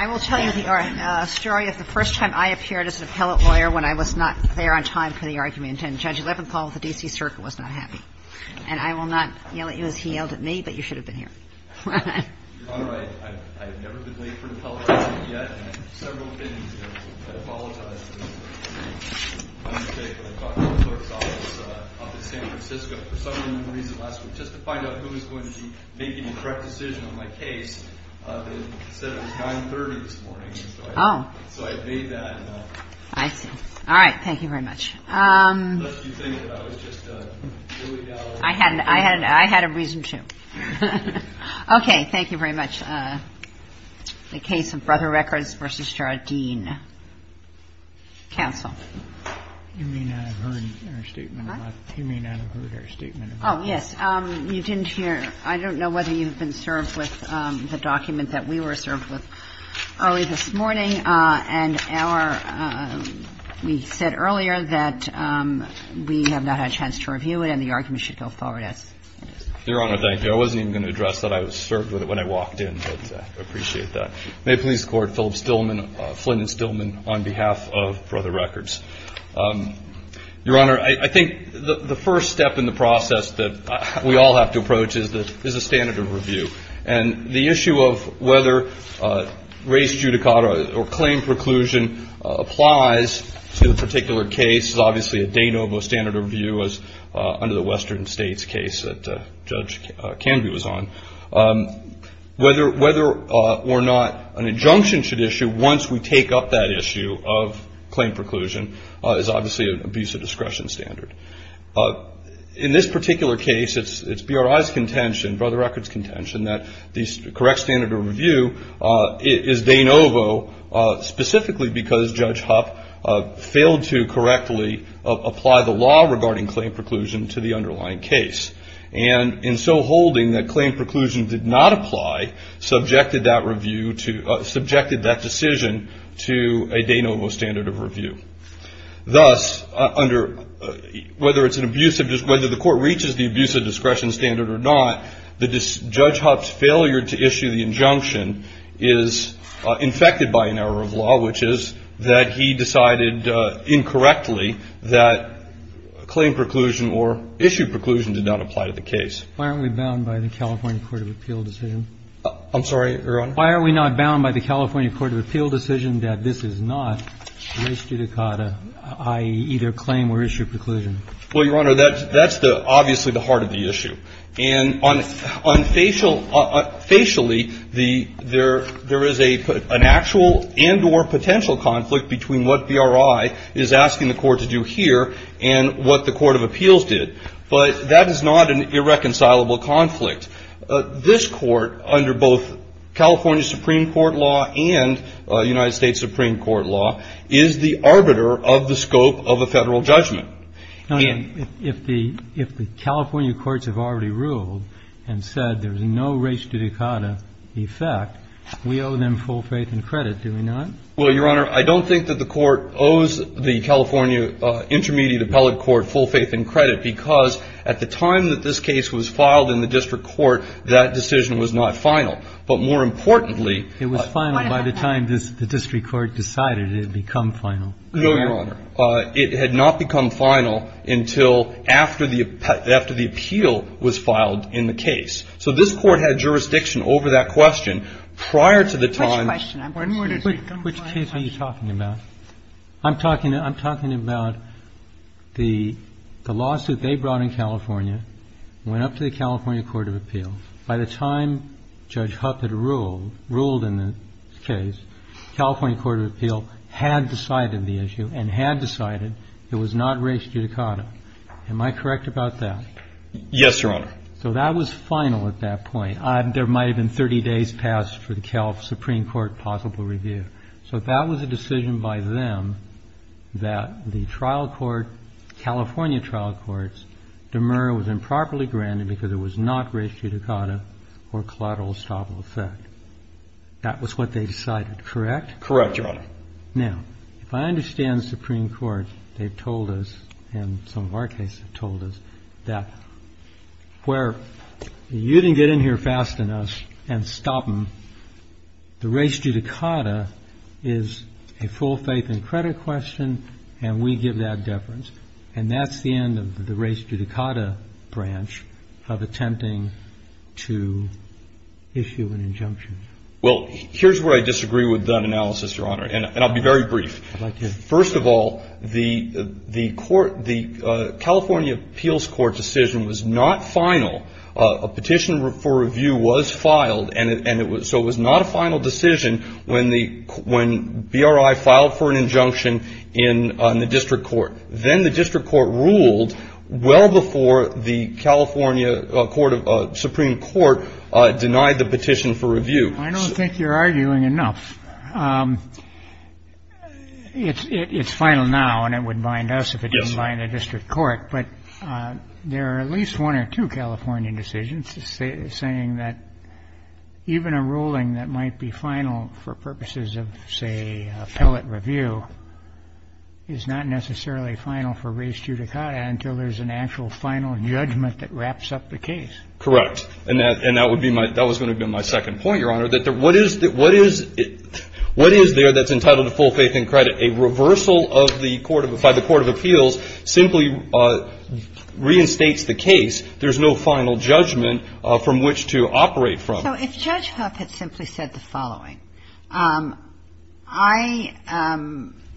I will tell you the story of the first time I appeared as an appellate lawyer when I was not there on time for the argument, and Judge Leventhal of the D.C. Circuit was not happy, and I will not yell at you as he yelled at me, but you should have been here. Your Honor, I have never been late for an appellate hearing yet, and I have several opinions. I apologize for the mistake when I talked to the clerk's office in San Francisco for some reason last week, just to find out who was going to be making the correct decision on my case. They said it was 9.30 this morning, so I made that. I see. All right. Thank you very much. What did you think of it? I was just really down on my luck. I had a reason to. Okay. Thank you very much. The case of BROTHER RECORDS v. JARDINE. Counsel. You may not have heard our statement about this. Oh, yes. You didn't hear. I don't know whether you've been served with the document that we were served with early this morning, and we said earlier that we have not had a chance to review it, and the argument should go forward as is. Your Honor, thank you. I wasn't even going to address that I was served with it when I walked in, but I appreciate that. May it please the Court, Philip Stillman, Flynn and Stillman, on behalf of BROTHER RECORDS. Your Honor, I think the first step in the process that we all have to approach is a standard of review. And the issue of whether race judicata or claim preclusion applies to the particular case is obviously a de novo standard of review as under the Western States case that Judge Canby was on. Whether or not an injunction should issue once we take up that issue of claim preclusion is obviously an abuse of discretion standard. In this particular case, it's BRI's contention, BROTHER RECORDS' contention, that the correct standard of review is de novo, specifically because Judge Huff failed to correctly apply the law regarding claim preclusion to the underlying case. And in so holding that claim preclusion did not apply, subjected that decision to a de novo standard of review. Thus, whether the Court reaches the abuse of discretion standard or not, Judge Huff's failure to issue the injunction is infected by an error of law, which is that he decided incorrectly that claim preclusion or issue preclusion did not apply to the case. Why aren't we bound by the California Court of Appeal decision? I'm sorry, Your Honor? Why are we not bound by the California Court of Appeal decision that this is not race judicata, i.e., either claim or issue preclusion? Well, Your Honor, that's the obviously the heart of the issue. And facially, there is an actual and or potential conflict between what BRI is asking the Court to do here and what the Court of Appeals did. But that is not an irreconcilable conflict. This Court, under both California Supreme Court law and United States Supreme Court law, is the arbiter of the scope of a Federal judgment. Now, if the California courts have already ruled and said there's no race judicata effect, we owe them full faith and credit, do we not? Well, Your Honor, I don't think that the Court owes the California Intermediate Appellate Court full faith and credit, because at the time that this case was filed in the district court, that decision was not final. But more importantly, It was final by the time the district court decided it had become final. No, Your Honor. It had not become final until after the appeal was filed in the case. So this Court had jurisdiction over that question prior to the time. Which question? Which case are you talking about? I'm talking about the lawsuit they brought in California, went up to the California Court of Appeals. By the time Judge Huff had ruled, ruled in the case, California Court of Appeals had decided the issue and had decided it was not race judicata. Am I correct about that? Yes, Your Honor. So that was final at that point. There might have been 30 days passed for the California Supreme Court possible review. So that was a decision by them that the trial court, California trial courts, was improperly granted because it was not race judicata or collateral estoppel effect. That was what they decided, correct? Correct, Your Honor. Now, if I understand the Supreme Court, they've told us, and some of our cases have told us, that where you didn't get in here fast enough and stop them, the race judicata is a full faith and credit question, and we give that deference. And that's the end of the race judicata branch of attempting to issue an injunction. Well, here's where I disagree with that analysis, Your Honor, and I'll be very brief. First of all, the California Appeals Court decision was not final. A petition for review was filed, so it was not a final decision when BRI filed for an injunction in the district court. Then the district court ruled well before the California Supreme Court denied the petition for review. I don't think you're arguing enough. It's final now, and it would bind us if it didn't bind the district court. But there are at least one or two California decisions saying that even a ruling that might be final for purposes of, say, appellate review is not necessarily final for race judicata until there's an actual final judgment that wraps up the case. Correct. And that was going to be my second point, Your Honor, that what is there that's entitled to full faith and credit? A reversal by the court of appeals simply reinstates the case. There's no final judgment from which to operate from. So if Judge Huff had simply said the following, I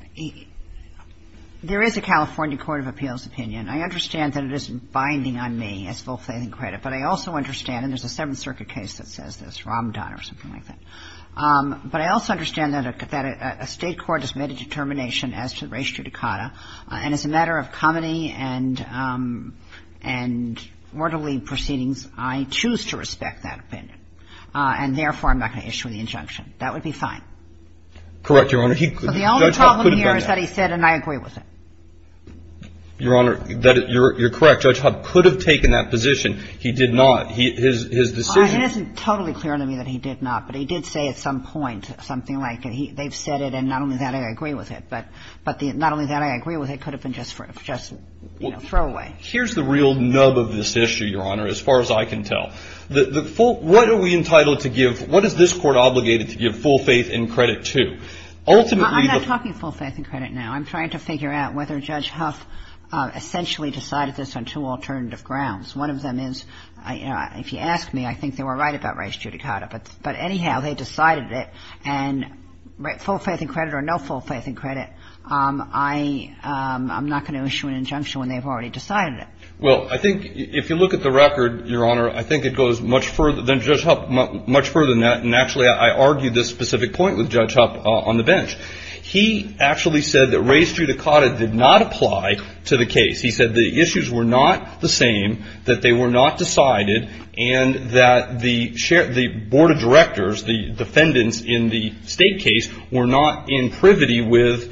— there is a California court of appeals opinion. I understand that it isn't binding on me as full faith and credit, but I also understand, and there's a Seventh Circuit case that says this, Ramadan or something like that. But I also understand that a state court has made a determination as to race judicata, and as a matter of comity and orderly proceedings, I choose to respect that opinion, and therefore, I'm not going to issue the injunction. That would be fine. Correct, Your Honor. So the only problem here is that he said, and I agree with it. Your Honor, you're correct. Judge Huff could have taken that position. He did not. His decision — It isn't totally clear to me that he did not, but he did say at some point something like they've said it, and not only that, I agree with it. But the not only that, I agree with it, could have been just throwaway. Here's the real nub of this issue, Your Honor, as far as I can tell. The full — what are we entitled to give — what is this Court obligated to give full faith and credit to? Ultimately — I'm not talking full faith and credit now. I'm trying to figure out whether Judge Huff essentially decided this on two alternative grounds. One of them is, you know, if you ask me, I think they were right about race judicata. But anyhow, they decided it. And full faith and credit or no full faith and credit, I'm not going to issue an injunction when they've already decided it. Well, I think if you look at the record, Your Honor, I think it goes much further — than Judge Huff, much further than that. And actually, I argue this specific point with Judge Huff on the bench. He actually said that race judicata did not apply to the case. He said the issues were not the same, that they were not decided, and that the Board of Directors, the defendants in the state case, were not in privity with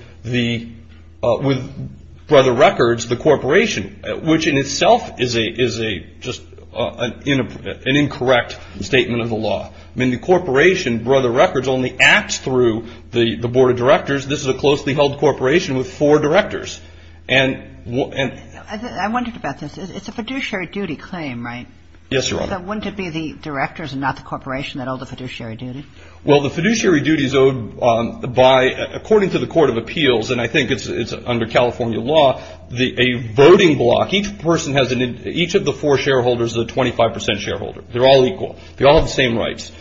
Brother Records, the corporation, which in itself is just an incorrect statement of the law. I mean, the corporation, Brother Records, only acts through the Board of Directors. This is a closely held corporation with four directors. And — I wondered about this. It's a fiduciary duty claim, right? Yes, Your Honor. So wouldn't it be the directors and not the corporation that owe the fiduciary duty? Well, the fiduciary duty is owed by — according to the Court of Appeals, and I think it's under California law, a voting block. Each person has an — each of the four shareholders is a 25 percent shareholder. They're all equal. They all have the same rights.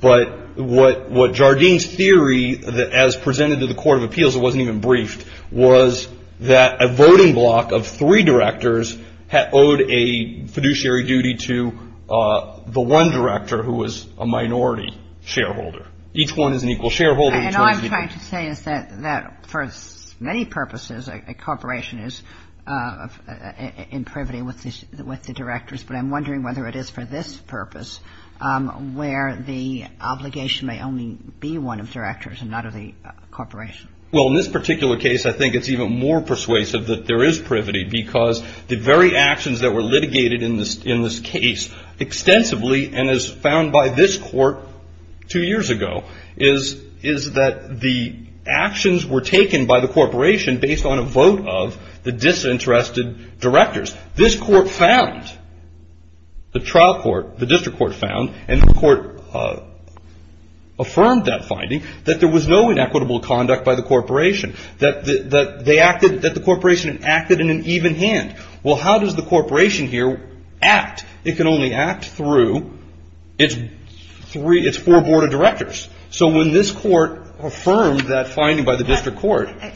But what Jardine's theory, as presented to the Court of Appeals, it wasn't even briefed, was that a voting block of three directors owed a fiduciary duty to the one director who was a minority shareholder. Each one is an equal shareholder. And all I'm trying to say is that for many purposes, a corporation is in privity with the directors. But I'm wondering whether it is for this purpose where the obligation may only be one of directors and not of the corporation. Well, in this particular case, I think it's even more persuasive that there is privity because the very actions that were litigated in this case extensively and as found by this court two years ago is that the actions were taken by the corporation based on a vote of the disinterested directors. This court found, the trial court, the district court found, and the court affirmed that finding that there was no inequitable conduct by the corporation, that they acted — that the corporation acted in an even hand. Well, how does the corporation here act? It can only act through its three — its four board of directors. So when this court affirmed that finding by the district court — I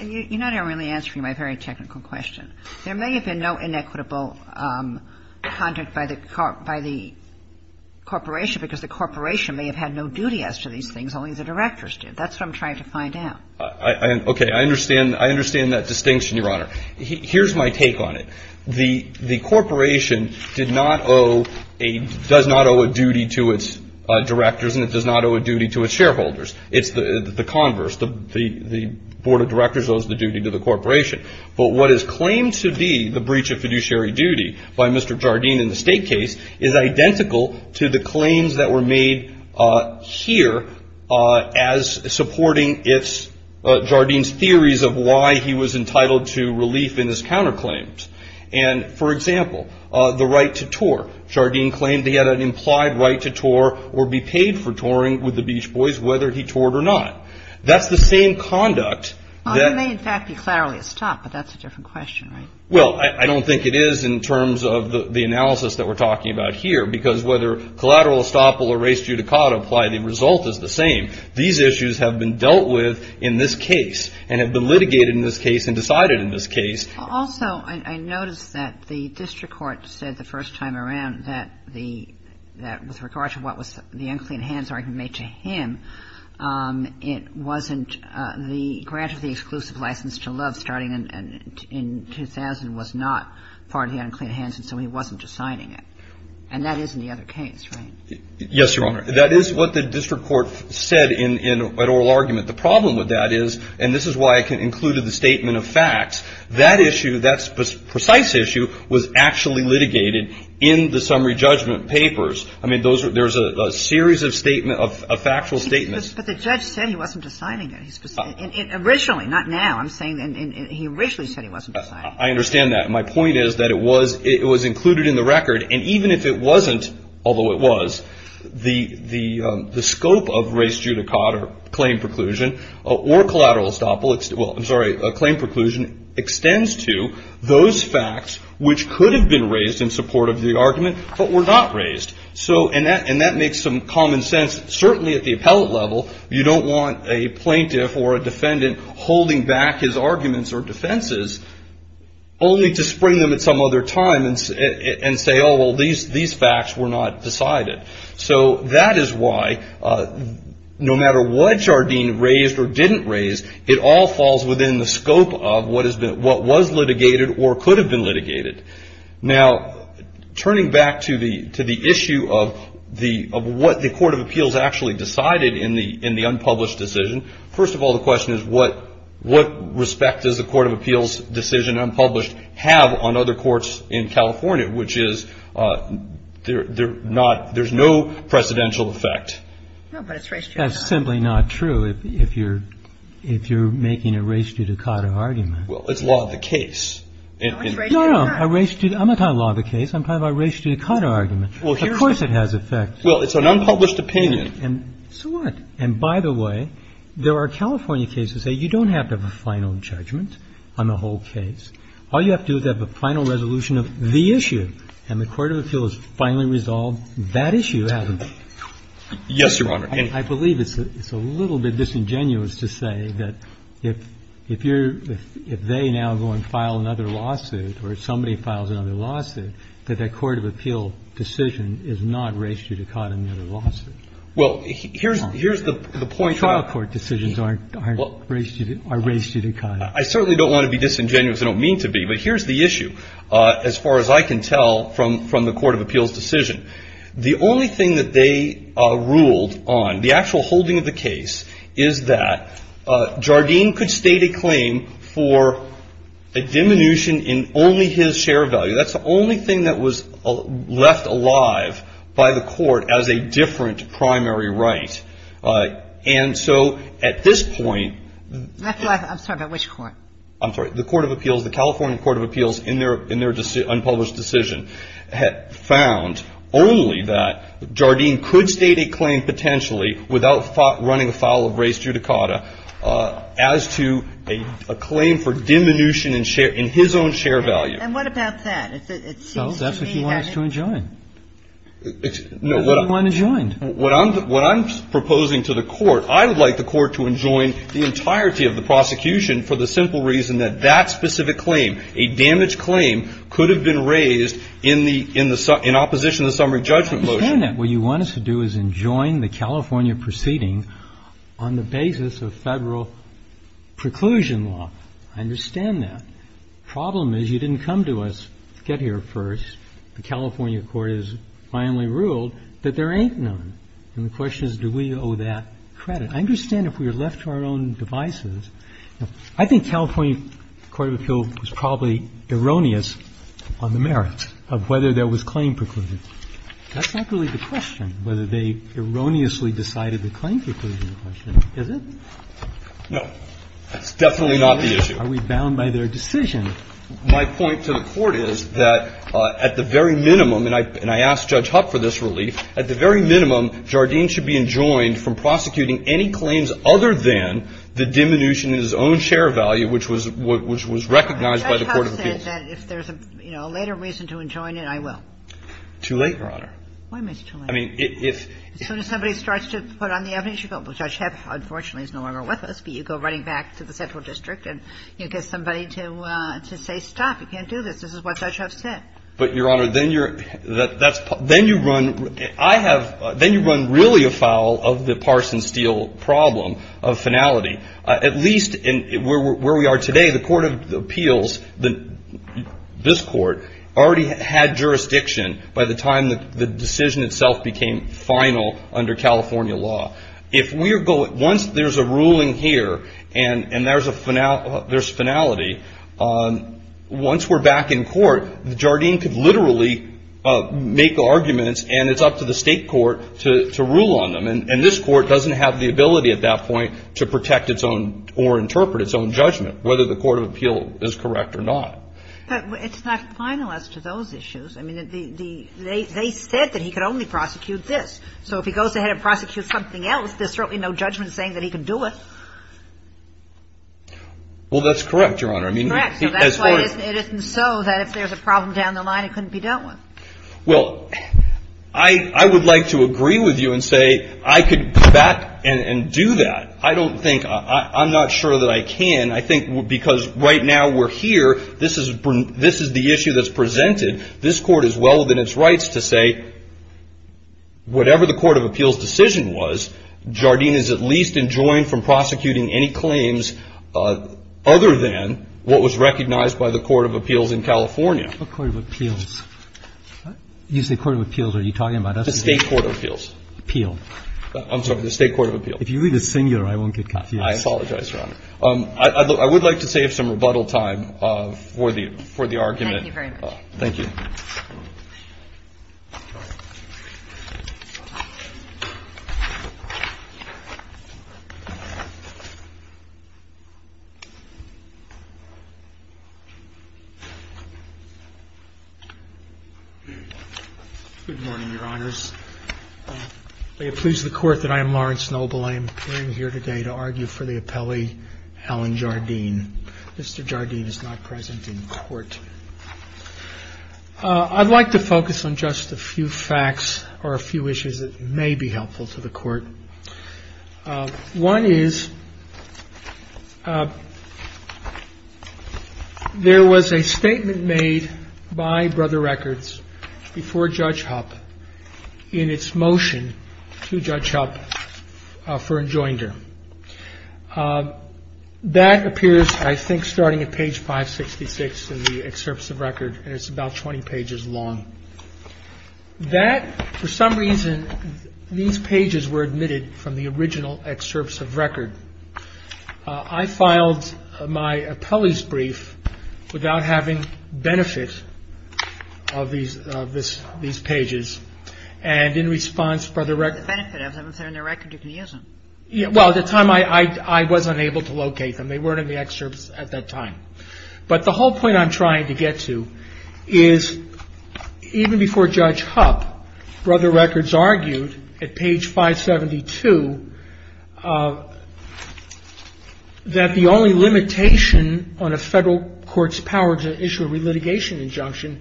understand that distinction, Your Honor. Here's my take on it. The corporation did not owe a — does not owe a duty to its directors, and it does not owe a duty to its shareholders. It's the converse. The board of directors owes the duty to the corporation. Well, it may, in fact, be clearly a stop, but that's a different question, right? Well, I don't think it is in terms of the analysis that we're talking about here, because whether collateral estoppel or res judicata apply, the result is the same. These issues have been dealt with in this case and have been litigated in this case and decided in this case. Also, I noticed that the district court said the first time around that the — that with regard to what was the unclean hands argument made to him, it wasn't the grant of the exclusive license to love starting in 2000 was not part of the unclean hands, and so he wasn't assigning it. And that is in the other case, right? Yes, Your Honor. That is what the district court said in an oral argument. The problem with that is — and this is why I included the statement of facts — that issue, that precise issue was actually litigated in the summary judgment papers. I mean, there's a series of factual statements. But the judge said he wasn't assigning it. Originally, not now, I'm saying — he originally said he wasn't assigning it. I understand that. My point is that it was included in the record, and even if it wasn't, although it was, the scope of res judicata claim preclusion or collateral estoppel — well, I'm sorry, claim preclusion extends to those facts which could have been raised in support of the argument but were not raised. And that makes some common sense. Certainly at the appellate level, you don't want a plaintiff or a defendant holding back his arguments or defenses only to spring them at some other time and say, oh, well, these facts were not decided. So that is why, no matter what Jardine raised or didn't raise, it all falls within the scope of what was litigated or could have been litigated. Now, turning back to the issue of what the court of appeals actually decided in the unpublished decision, first of all, the question is what respect does the court of appeals decision unpublished have on other courts in California, which is there's no precedential effect. No, but it's res judicata. That's simply not true if you're making a res judicata argument. Well, it's law of the case. No, no. A res judicata. I'm not talking about a law of the case. I'm talking about a res judicata argument. Of course it has effect. Well, it's an unpublished opinion. So what? And by the way, there are California cases that you don't have to have a final judgment on the whole case. All you have to do is have a final resolution of the issue, and the court of appeals finally resolved that issue. Yes, Your Honor. I believe it's a little bit disingenuous to say that if you're, if they now go and file another lawsuit or somebody files another lawsuit, that their court of appeal decision is not res judicata in their lawsuit. Well, here's the point. The trial court decisions aren't res judicata. I certainly don't want to be disingenuous. I don't mean to be. But here's the issue, as far as I can tell from the court of appeals decision. The only thing that they ruled on, the actual holding of the case, is that Jardine could state a claim for a diminution in only his share of value. That's the only thing that was left alive by the court as a different primary right. And so at this point the – I'm sorry, but which court? I'm sorry. The court of appeals, the California court of appeals in their unpublished decision had found only that Jardine could state a claim potentially without running a file of res judicata as to a claim for diminution in share, in his own share value. And what about that? It seems to me that – Well, that's what he wants to enjoin. No, what I'm – What does he want enjoined? What I'm proposing to the court, I would like the court to enjoin the entirety of the prosecution for the simple reason that that specific claim, a damaged claim, could have been raised in the – in opposition to the summary judgment motion. I understand that. What you want us to do is enjoin the California proceedings on the basis of Federal preclusion law. I understand that. The problem is you didn't come to us to get here first. The California court has finally ruled that there ain't none. And the question is, do we owe that credit? I understand if we were left to our own devices. I think California court of appeal was probably erroneous on the merits of whether there was claim preclusion. That's not really the question, whether they erroneously decided the claim preclusion question, is it? No. That's definitely not the issue. Are we bound by their decision? My point to the Court is that at the very minimum – and I ask Judge Huck for this relief – at the very minimum, Jardine should be enjoined from prosecuting any claims other than the diminution in his own share value, which was recognized by the court of appeals. But Judge Huck said that if there's a later reason to enjoin it, I will. Too late, Your Honor. Why am I too late? I mean, if – As soon as somebody starts to put on the evidence, you go, well, Judge Huck, unfortunately, is no longer with us. But you go running back to the central district and you get somebody to say, stop, you can't do this. This is what Judge Huck said. But, Your Honor, then you're – then you run – I have – then you run really afoul of the Parsons-Steele problem of finality. At least where we are today, the court of appeals, this court, already had jurisdiction by the time the decision itself became final under California law. Once there's a ruling here and there's finality, once we're back in court, Jardine could literally make arguments and it's up to the state court to rule on them. And this court doesn't have the ability at that point to protect its own or interpret its own judgment, whether the court of appeal is correct or not. But it's not final as to those issues. I mean, the – they said that he could only prosecute this. So if he goes ahead and prosecutes something else, there's certainly no judgment saying that he can do it. Well, that's correct, Your Honor. I mean, as far as – Correct. So that's why it isn't so that if there's a problem down the line, it couldn't be dealt with. Well, I would like to agree with you and say I could go back and do that. I don't think – I'm not sure that I can. I think because right now we're here. This is the issue that's presented. This Court is well within its rights to say whatever the court of appeals decision was, Jardine is at least enjoined from prosecuting any claims other than what was recognized by the court of appeals in California. What court of appeals? You say court of appeals. Are you talking about us? The state court of appeals. Appeal. I'm sorry. The state court of appeals. If you read the singular, I won't get confused. I apologize, Your Honor. I would like to save some rebuttal time for the argument. Thank you very much. Thank you. Good morning, Your Honors. May it please the Court that I am Lawrence Noble. I am here today to argue for the appellee, Alan Jardine. Mr. Jardine is not present in court. I'd like to focus on just a few facts or a few issues that may be helpful to the Court. One is there was a statement made by Brother Records before Judge Hupp in its motion to Judge Hupp for enjoinder. That appears, I think, starting at page 566 in the excerpts of record. And it's about 20 pages long. That, for some reason, these pages were admitted from the original excerpts of record. I filed my appellee's brief without having benefit of these pages. And in response, Brother Records ---- Well, at the time, I was unable to locate them. They weren't in the excerpts at that time. But the whole point I'm trying to get to is even before Judge Hupp, Brother Records argued at page 572 that the only limitation on a federal court's power to issue a relitigation injunction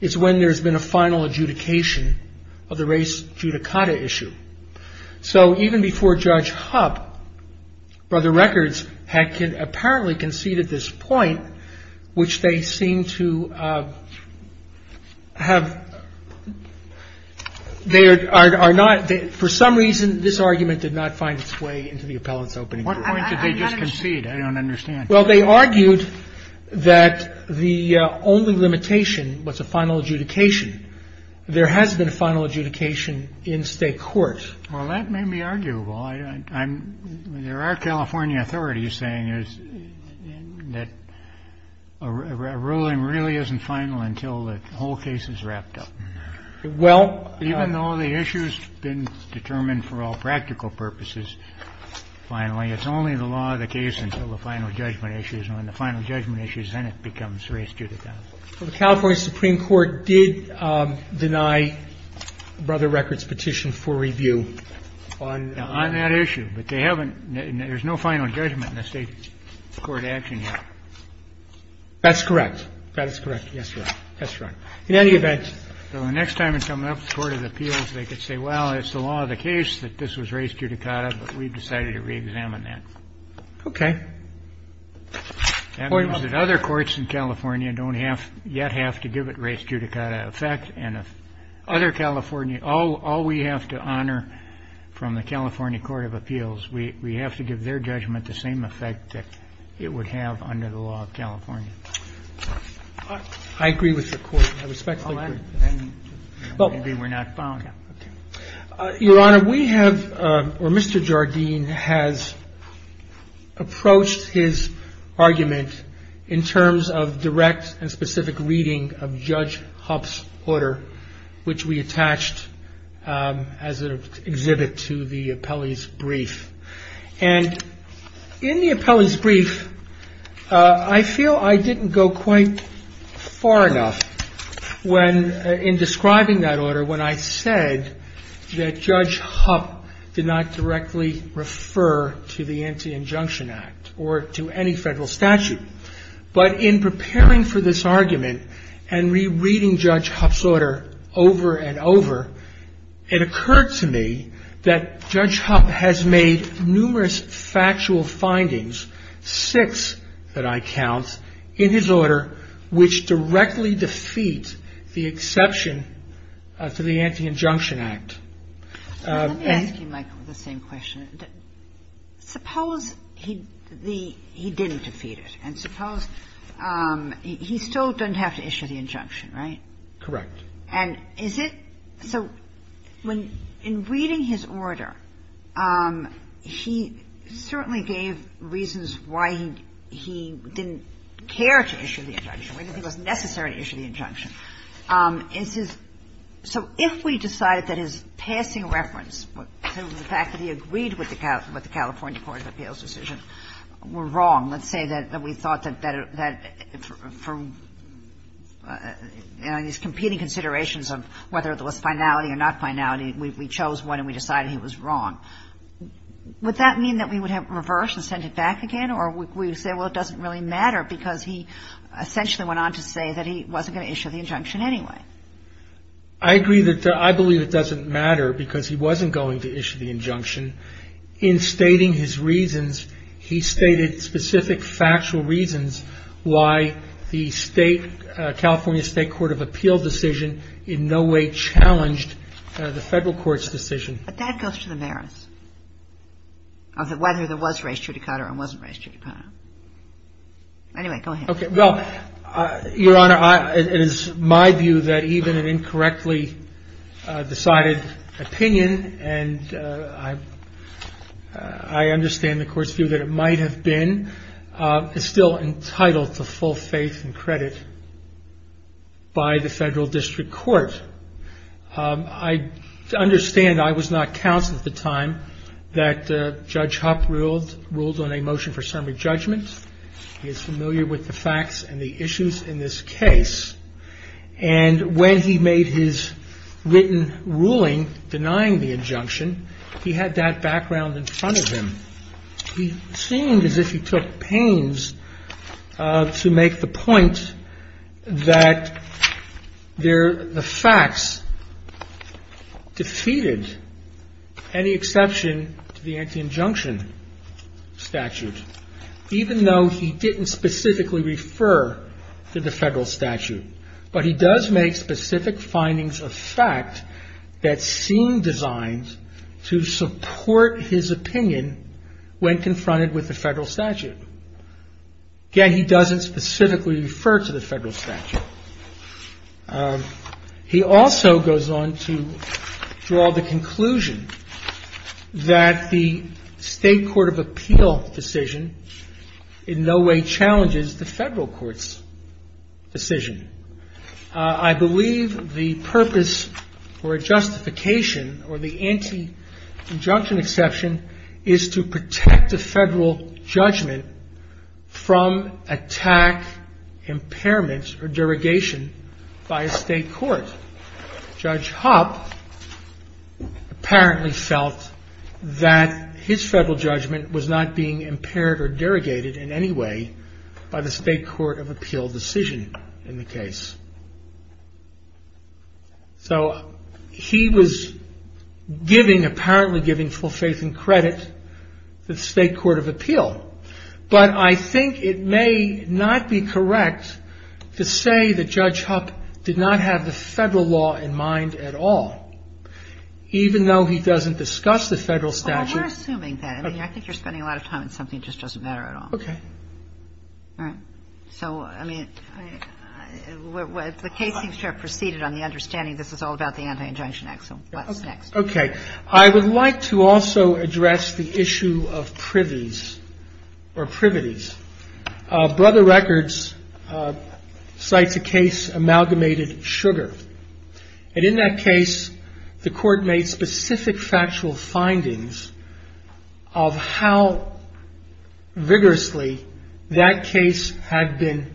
is when there's been a final adjudication of the race judicata issue. So even before Judge Hupp, Brother Records had apparently conceded this point, which they seem to have ---- For some reason, this argument did not find its way into the appellate's opening. What point did they just concede? I don't understand. Well, they argued that the only limitation was a final adjudication. There has been a final adjudication in state courts. Well, that may be arguable. There are California authorities saying that a ruling really isn't final until the whole case is wrapped up. Well ---- Even though the issue's been determined for all practical purposes, finally, it's only the law of the case until the final judgment issues. And when the final judgment issues, then it becomes race judicata. Well, the California Supreme Court did deny Brother Records' petition for review on ---- On that issue. But they haven't ---- there's no final judgment in the state court action yet. That's correct. That is correct. Yes, Your Honor. That's right. In any event ---- So the next time it's coming up to the court of appeals, they could say, well, it's the law of the case that this was race judicata, but we've decided to reexamine that. Okay. That means that other courts in California don't yet have to give it race judicata effect. And if other California ---- all we have to honor from the California Court of Appeals, we have to give their judgment the same effect that it would have under the law of California. I agree with the court. I respectfully agree. Then maybe we're not bound. Okay. Your Honor, we have ---- or Mr. Jardine has approached his argument in terms of direct and specific reading of Judge Hupp's order, which we attached as an exhibit to the appellee's brief. And in the appellee's brief, I feel I didn't go quite far enough when in describing that order, when I said that Judge Hupp did not directly refer to the Anti-Injunction Act or to any federal statute. But in preparing for this argument and rereading Judge Hupp's order over and over, it occurred to me that Judge Hupp has made numerous factual findings, six that I count, in his order which directly defeat the exception to the Anti-Injunction Act. Let me ask you, Michael, the same question. Suppose he didn't defeat it. And suppose he still doesn't have to issue the injunction, right? Correct. And is it so when in reading his order, he certainly gave reasons why he didn't care to issue the injunction, why he didn't think it was necessary to issue the injunction. Is his ---- so if we decided that his passing reference to the fact that he agreed with the California Court of Appeals decision were wrong, let's say that we thought that for these competing considerations of whether there was finality or not finality, we chose one and we decided he was wrong, would that mean that we would have reversed and sent it back again? Or would we say, well, it doesn't really matter because he essentially went on to say that he wasn't going to issue the injunction anyway? I agree that I believe it doesn't matter because he wasn't going to issue the injunction. In stating his reasons, he stated specific factual reasons why the state, California State Court of Appeals decision in no way challenged the Federal Court's decision. But that goes to the merits of whether there was res judicata or wasn't res judicata. Anyway, go ahead. Okay. Well, Your Honor, it is my view that even an incorrectly decided opinion, and I understand the Court's view that it might have been, is still entitled to full faith and credit by the Federal District Court. I understand I was not counsel at the time that Judge Hupp ruled on a motion for summary judgment. He is familiar with the facts and the issues in this case. And when he made his written ruling denying the injunction, he had that background in front of him. He seemed as if he took pains to make the point that there, the facts defeated any exception to the anti-injunction statute, even though he didn't specifically refer to the federal statute. But he does make specific findings of fact that seem designed to support his opinion when confronted with the federal statute. Again, he doesn't specifically refer to the federal statute. He also goes on to draw the conclusion that the state court of appeal decision in no way challenges the federal court's decision. I believe the purpose or justification or the anti-injunction exception is to protect the federal judgment from attack, impairment, or derogation by a state court. Judge Hupp apparently felt that his federal judgment was not being impaired or derogated in any way by the state court of appeal decision in the case. So he was giving, apparently giving full faith and credit to the state court of appeal. But I think it may not be correct to say that Judge Hupp did not have the federal law in mind at all, even though he doesn't discuss the federal statute. Kagan. Well, we're assuming that. I mean, I think you're spending a lot of time on something that just doesn't matter at all. Okay. All right. So, I mean, the case seems to have proceeded on the understanding this is all about the anti-injunction act, so what's next? Okay. I would like to also address the issue of privies or privities. Brother Records cites a case, Amalgamated Sugar. And in that case, the court made specific factual findings of how vigorously that case had been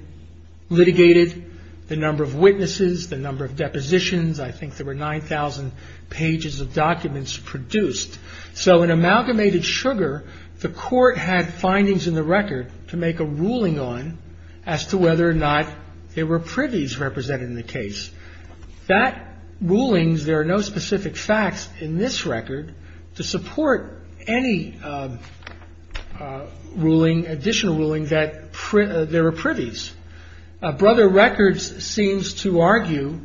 litigated, the number of witnesses, the number of depositions. I think there were 9,000 pages of documents produced. So in Amalgamated Sugar, the court had findings in the record to make a ruling on as to whether or not there were privies represented in the case. That ruling, there are no specific facts in this record to support any ruling, additional ruling that there were privies. Brother Records seems to argue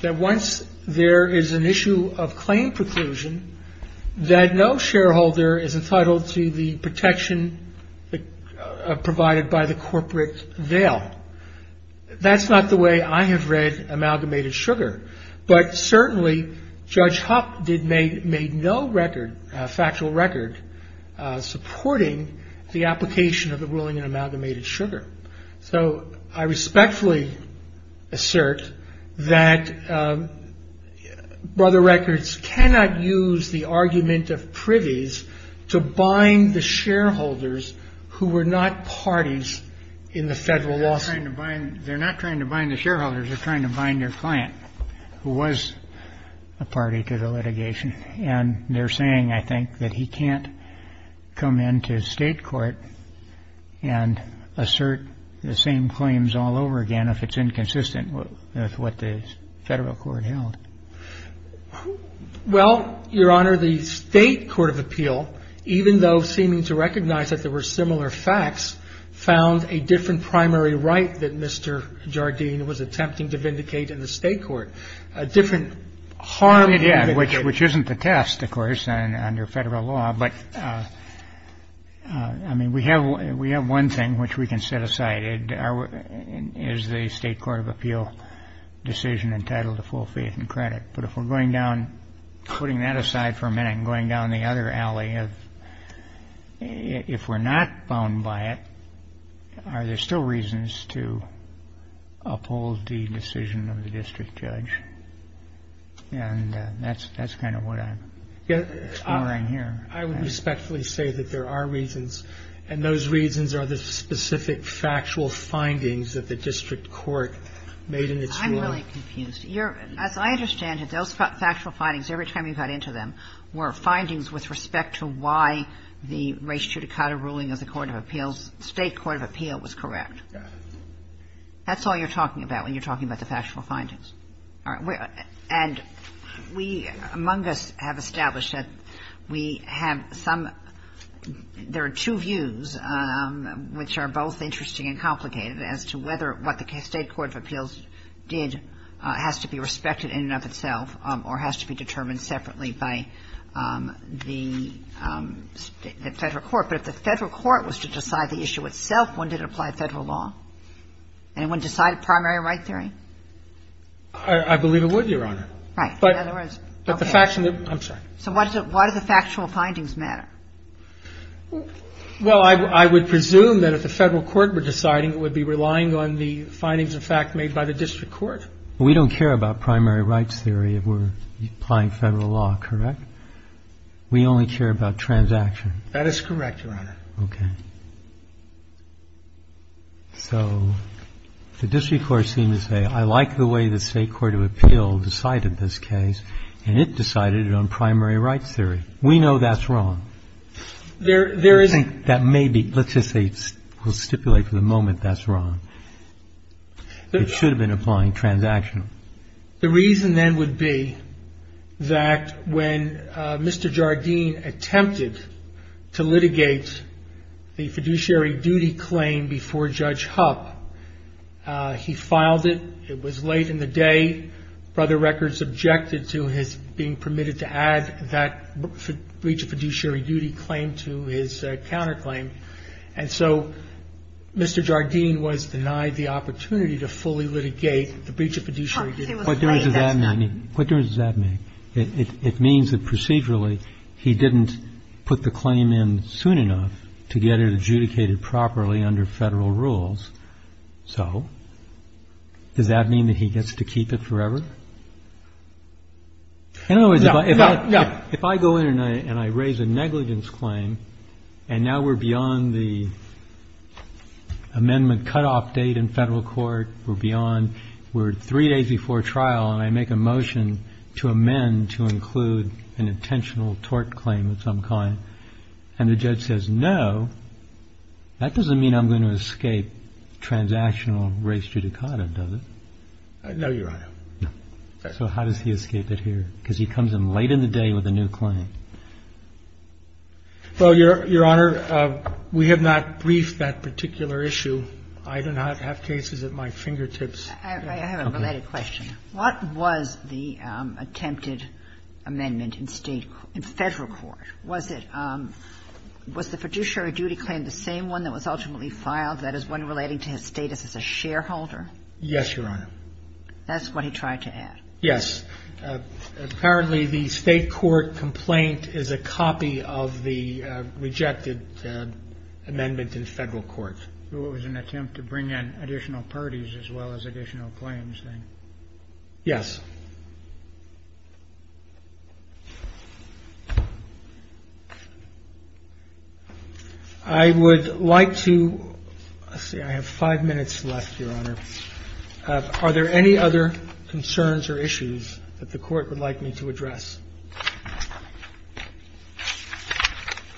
that once there is an issue of claim preclusion, that no shareholder is entitled to the protection provided by the corporate veil. That's not the way I have read Amalgamated Sugar. But certainly, Judge Hupp made no record, factual record, supporting the application of the ruling in Amalgamated Sugar. So I respectfully assert that Brother Records cannot use the argument of privies to bind the shareholders who were not parties in the federal lawsuit. They're not trying to bind the shareholders. They're trying to bind their client who was a party to the litigation. And they're saying, I think, that he can't come into state court and assert the same claims all over again if it's inconsistent with what the federal court held. Well, Your Honor, the state court of appeal, even though seeming to recognize that there were similar facts, found a different primary right that Mr. Jardine was attempting to vindicate in the state court. Which isn't the test, of course, under federal law. But, I mean, we have one thing which we can set aside. It is the state court of appeal decision entitled to full faith and credit. But if we're going down, putting that aside for a minute and going down the other alley, if we're not bound by it, are there still reasons to uphold the decision of the district judge? And that's kind of what I'm exploring here. I would respectfully say that there are reasons, and those reasons are the specific factual findings that the district court made in its ruling. I'm really confused. As I understand it, those factual findings, every time you got into them, were findings with respect to why the race judicata ruling of the court of appeals, state court of appeal, was correct. Got it. That's all you're talking about when you're talking about the factual findings. All right. And we, among us, have established that we have some – there are two views which are both interesting and complicated as to whether what the state court of appeals did has to be respected in and of itself or has to be determined separately by the federal court. But if the federal court was to decide the issue itself, wouldn't it apply federal law? Anyone decide primary right theory? I believe it would, Your Honor. Right. In other words, okay. I'm sorry. So why do the factual findings matter? Well, I would presume that if the federal court were deciding, it would be relying on the findings of fact made by the district court. We don't care about primary rights theory if we're applying federal law, correct? We only care about transaction. That is correct, Your Honor. Okay. So the district court seemed to say, I like the way the state court of appeals decided this case, and it decided it on primary rights theory. We know that's wrong. There isn't. That may be. Let's just say we'll stipulate for the moment that's wrong. It should have been applying transaction. The reason then would be that when Mr. Jardine attempted to litigate the fiduciary duty claim before Judge Hupp, he filed it. It was late in the day. Brother Records objected to his being permitted to add that breach of fiduciary duty claim to his counterclaim. And so Mr. Jardine was denied the opportunity to fully litigate the breach of fiduciary duty. What difference does that make? It means that procedurally he didn't put the claim in soon enough to get it adjudicated properly under federal rules. So does that mean that he gets to keep it forever? No, no, no. If I go in and I raise a negligence claim, and now we're beyond the amendment cutoff date in federal court, we're beyond, we're three days before trial, and I make a motion to amend to include an intentional tort claim of some kind, and the judge says no, that doesn't mean I'm going to escape transactional race judicata, does it? No, Your Honor. So how does he escape it here? Because he comes in late in the day with a new claim. Well, Your Honor, we have not briefed that particular issue. I do not have cases at my fingertips. I have a related question. What was the attempted amendment in state, in federal court? Was it, was the fiduciary duty claim the same one that was ultimately filed, that is, one relating to his status as a shareholder? Yes, Your Honor. That's what he tried to add. Yes. Apparently the state court complaint is a copy of the rejected amendment in federal court. So it was an attempt to bring in additional parties as well as additional claims, then? Yes. I would like to, let's see, I have five minutes left, Your Honor. Are there any other concerns or issues that the Court would like me to address?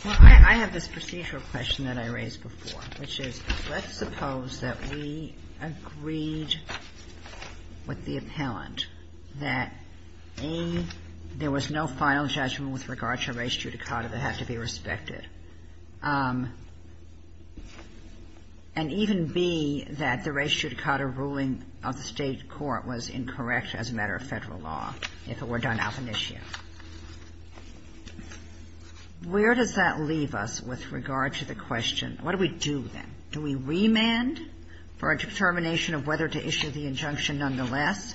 Well, I have this procedural question that I raised before, which is let's suppose that we agreed with the appellant that, A, there was no final judgment with regard to race judicata that had to be respected, and even, B, that the race judicata ruling of the state court was incorrect as a matter of federal law, if it were done alfinitio. Where does that leave us with regard to the question, what do we do then? Do we remand for a determination of whether to issue the injunction nonetheless,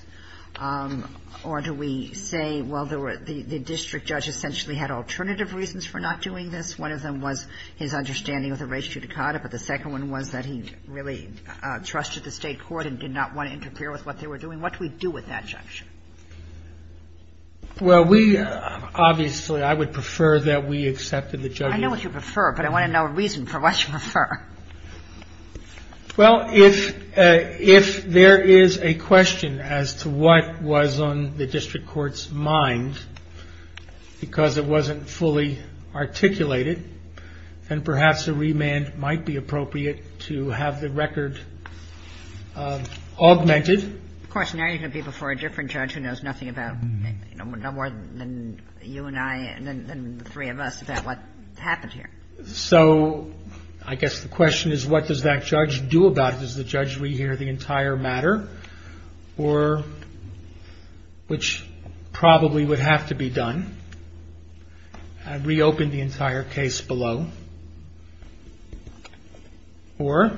or do we say, well, the district judge essentially had alternative reasons for not doing this? One of them was his understanding of the race judicata, but the second one was that he didn't really trust the state court and did not want to interfere with what they were doing. What do we do with that injunction? Well, we obviously, I would prefer that we accepted the judgment. I know what you prefer, but I want to know a reason for what you prefer. Well, if there is a question as to what was on the district court's mind, because it wasn't fully articulated, then perhaps a remand might be appropriate to have the record augmented. Of course, now you're going to be before a different judge who knows nothing more than you and I and the three of us about what happened here. So I guess the question is, what does that judge do about it? Does the judge rehear the entire matter, or, which probably would have to be done, and reopen the entire case below, or?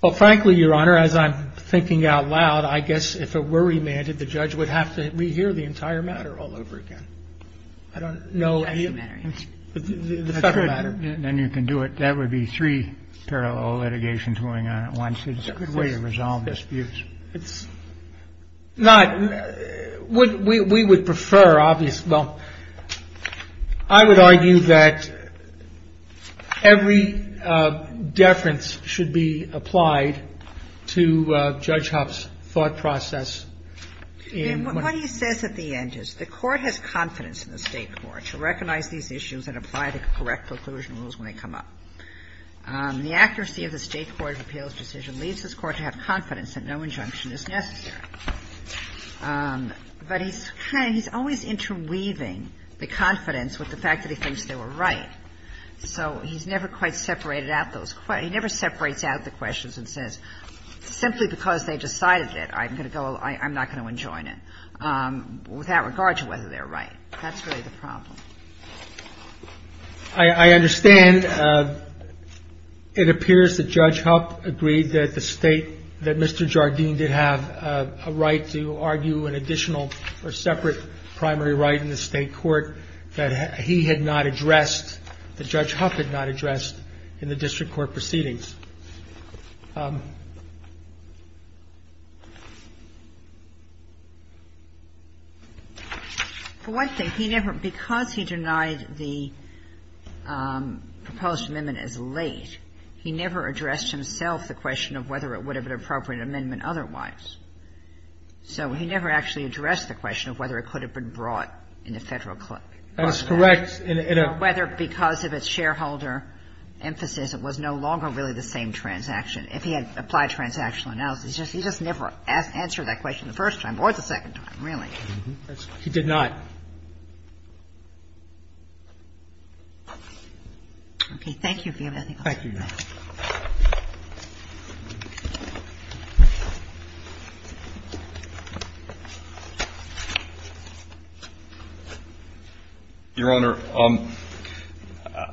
Well, frankly, Your Honor, as I'm thinking out loud, I guess if it were remanded, the judge would have to rehear the entire matter all over again. I don't know any of the federal matter. Then you can do it. That would be three parallel litigations going on at once. It's a good way to resolve disputes. It's not. We would prefer, obviously, well, I would argue that every deference should be applied to Judge Huff's thought process. And what he says at the end is the Court has confidence in the State court to recognize these issues and apply the correct preclusion rules when they come up. The accuracy of the State court's appeals decision leaves this Court to have confidence that no injunction is necessary. But he's kind of – he's always interweaving the confidence with the fact that he thinks they were right. So he's never quite separated out those – he never separates out the questions and says simply because they decided it, I'm going to go – I'm not going to enjoin it, without regard to whether they're right. That's really the problem. I understand. It appears that Judge Huff agreed that the State – that Mr. Jardine did have a right to argue an additional or separate primary right in the State court that he had not addressed – that Judge Huff had not addressed in the district court proceedings. For one thing, he never – because he denied the proposed amendment as late, he never addressed himself the question of whether it would have been an appropriate amendment otherwise. So he never actually addressed the question of whether it could have been brought in the Federal court. That's correct. He never addressed the question of whether because of its shareholder emphasis it was no longer really the same transaction. If he had applied transactional analysis, he just never answered that question the first time or the second time, really. He did not. Okay. Thank you, Your Honor. Thank you, Your Honor. Your Honor,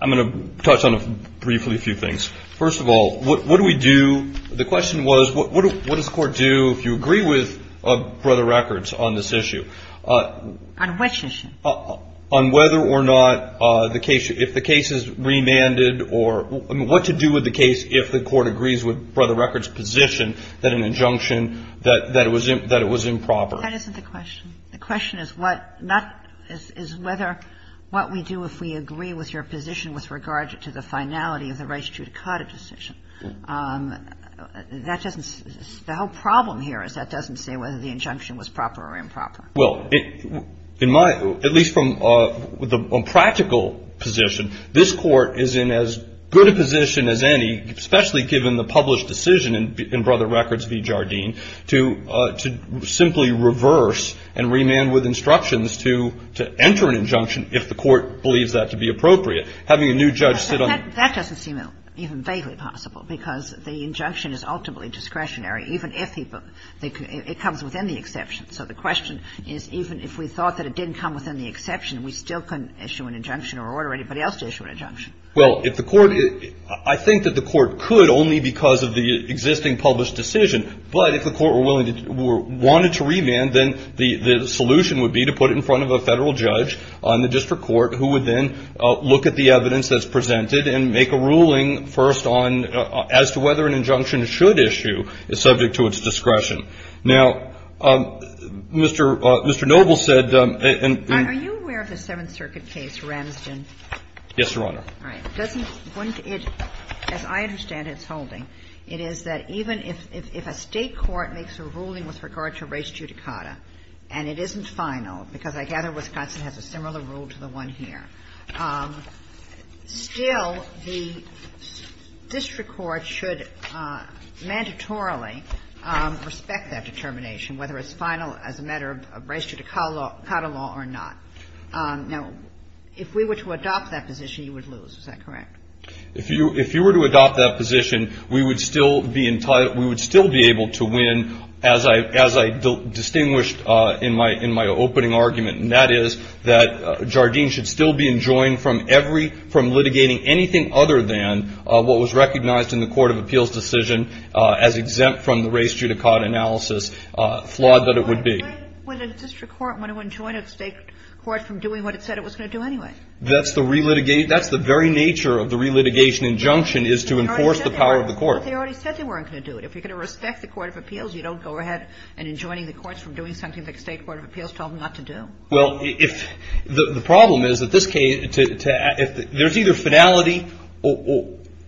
I'm going to touch on briefly a few things. First of all, what do we do – the question was what does the Court do if you agree with Brother Records on this issue? On what issue? On whether or not the case – if the case is remanded or – I mean, what to do with the case if the case is remanded. What to do with the case if the Court agrees with Brother Records' position that an injunction – that it was improper. That isn't the question. The question is what – not – is whether – what we do if we agree with your position with regard to the finality of the Rice-Judicata decision. That doesn't – the whole problem here is that doesn't say whether the injunction was proper or improper. Well, in my – at least from the practical position, this Court is in as good a position as any, especially given the published decision in Brother Records v. Jardine, to simply reverse and remand with instructions to enter an injunction if the Court believes that to be appropriate. Having a new judge sit on – But that doesn't seem even vaguely possible because the injunction is ultimately discretionary, even if it comes within the exception. So the question is even if we thought that it didn't come within the exception, Well, if the Court – I think that the Court could only because of the existing published decision, but if the Court were willing to – wanted to remand, then the solution would be to put it in front of a Federal judge on the district court who would then look at the evidence that's presented and make a ruling first on – as to whether an injunction should issue is subject to its discretion. Now, Mr. – Mr. Noble said – Are you aware of the Seventh Circuit case, Ramsden? Yes, Your Honor. All right. Doesn't – wouldn't it – as I understand its holding, it is that even if a State court makes a ruling with regard to res judicata and it isn't final, because I gather Wisconsin has a similar rule to the one here, still the district court should mandatorily respect that determination, whether it's final as a matter of res judicata law or not. Now, if we were to adopt that position, you would lose. Is that correct? If you – if you were to adopt that position, we would still be – we would still be able to win as I – as I distinguished in my – in my opening argument, and that is that Jardine should still be enjoined from every – from litigating anything other than what was recognized in the Court of Appeals decision as exempt from the res judicata analysis, flawed that it would be. Why would a district court want to enjoin a State court from doing what it said it was going to do anyway? That's the re-litigation – that's the very nature of the re-litigation injunction is to enforce the power of the court. But they already said they weren't going to do it. If you're going to respect the Court of Appeals, you don't go ahead and enjoining the courts from doing something that the State Court of Appeals told them not to do. Well, if – the problem is that this case – there's either finality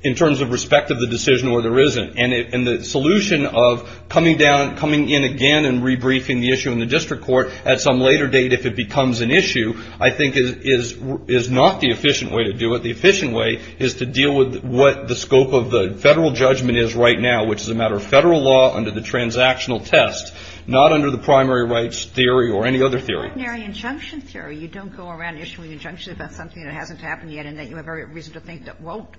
in terms of respect of the decision or there isn't. And it – and the solution of coming down – coming in again and re-briefing the issue in the district court at some later date if it becomes an issue I think is – is not the efficient way to do it. The efficient way is to deal with what the scope of the federal judgment is right now, which is a matter of federal law under the transactional test, not under the primary rights theory or any other theory. Ordinary injunction theory. You don't go around issuing injunctions about something that hasn't happened yet and that you have every reason to think that won't.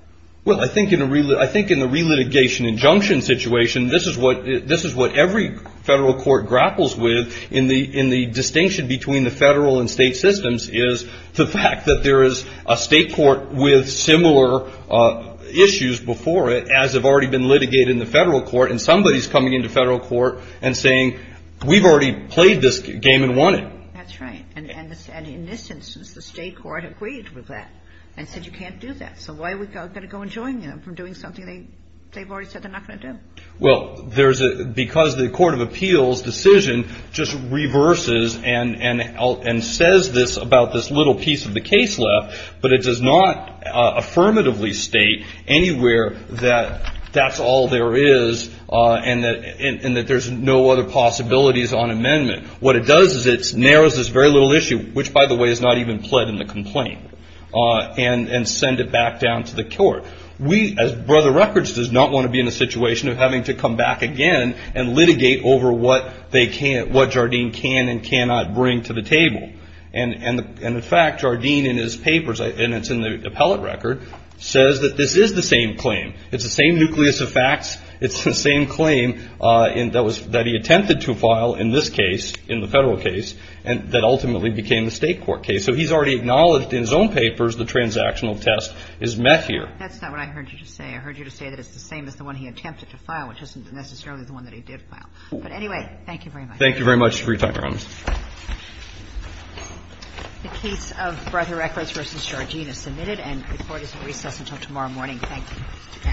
Well, I think in a – I think in the relitigation injunction situation, this is what – this is what every federal court grapples with in the – in the distinction between the federal and state systems is the fact that there is a State court with similar issues before it as have already been litigated in the federal court. And somebody is coming into federal court and saying, we've already played this game and won it. That's right. And in this instance, the State court agreed with that and said you can't do that. So why are we going to go and join them from doing something they've already said they're not going to do? Well, there's a – because the court of appeals decision just reverses and says this about this little piece of the case left, but it does not affirmatively state anywhere that that's all there is and that there's no other possibilities on amendment. What it does is it narrows this very little issue, which, by the way, is not even and send it back down to the court. We, as Brother Records, does not want to be in a situation of having to come back again and litigate over what they can – what Jardine can and cannot bring to the table. And in fact, Jardine in his papers, and it's in the appellate record, says that this is the same claim. It's the same nucleus of facts. It's the same claim that he attempted to file in this case, in the federal case, that ultimately became the State court case. So he's already acknowledged in his own papers the transactional test is met here. That's not what I heard you say. I heard you say that it's the same as the one he attempted to file, which isn't necessarily the one that he did file. But anyway, thank you very much. Thank you very much for your time, Your Honor. The case of Brother Records v. Jardine is submitted, and the court is in recess until tomorrow morning. Thank you.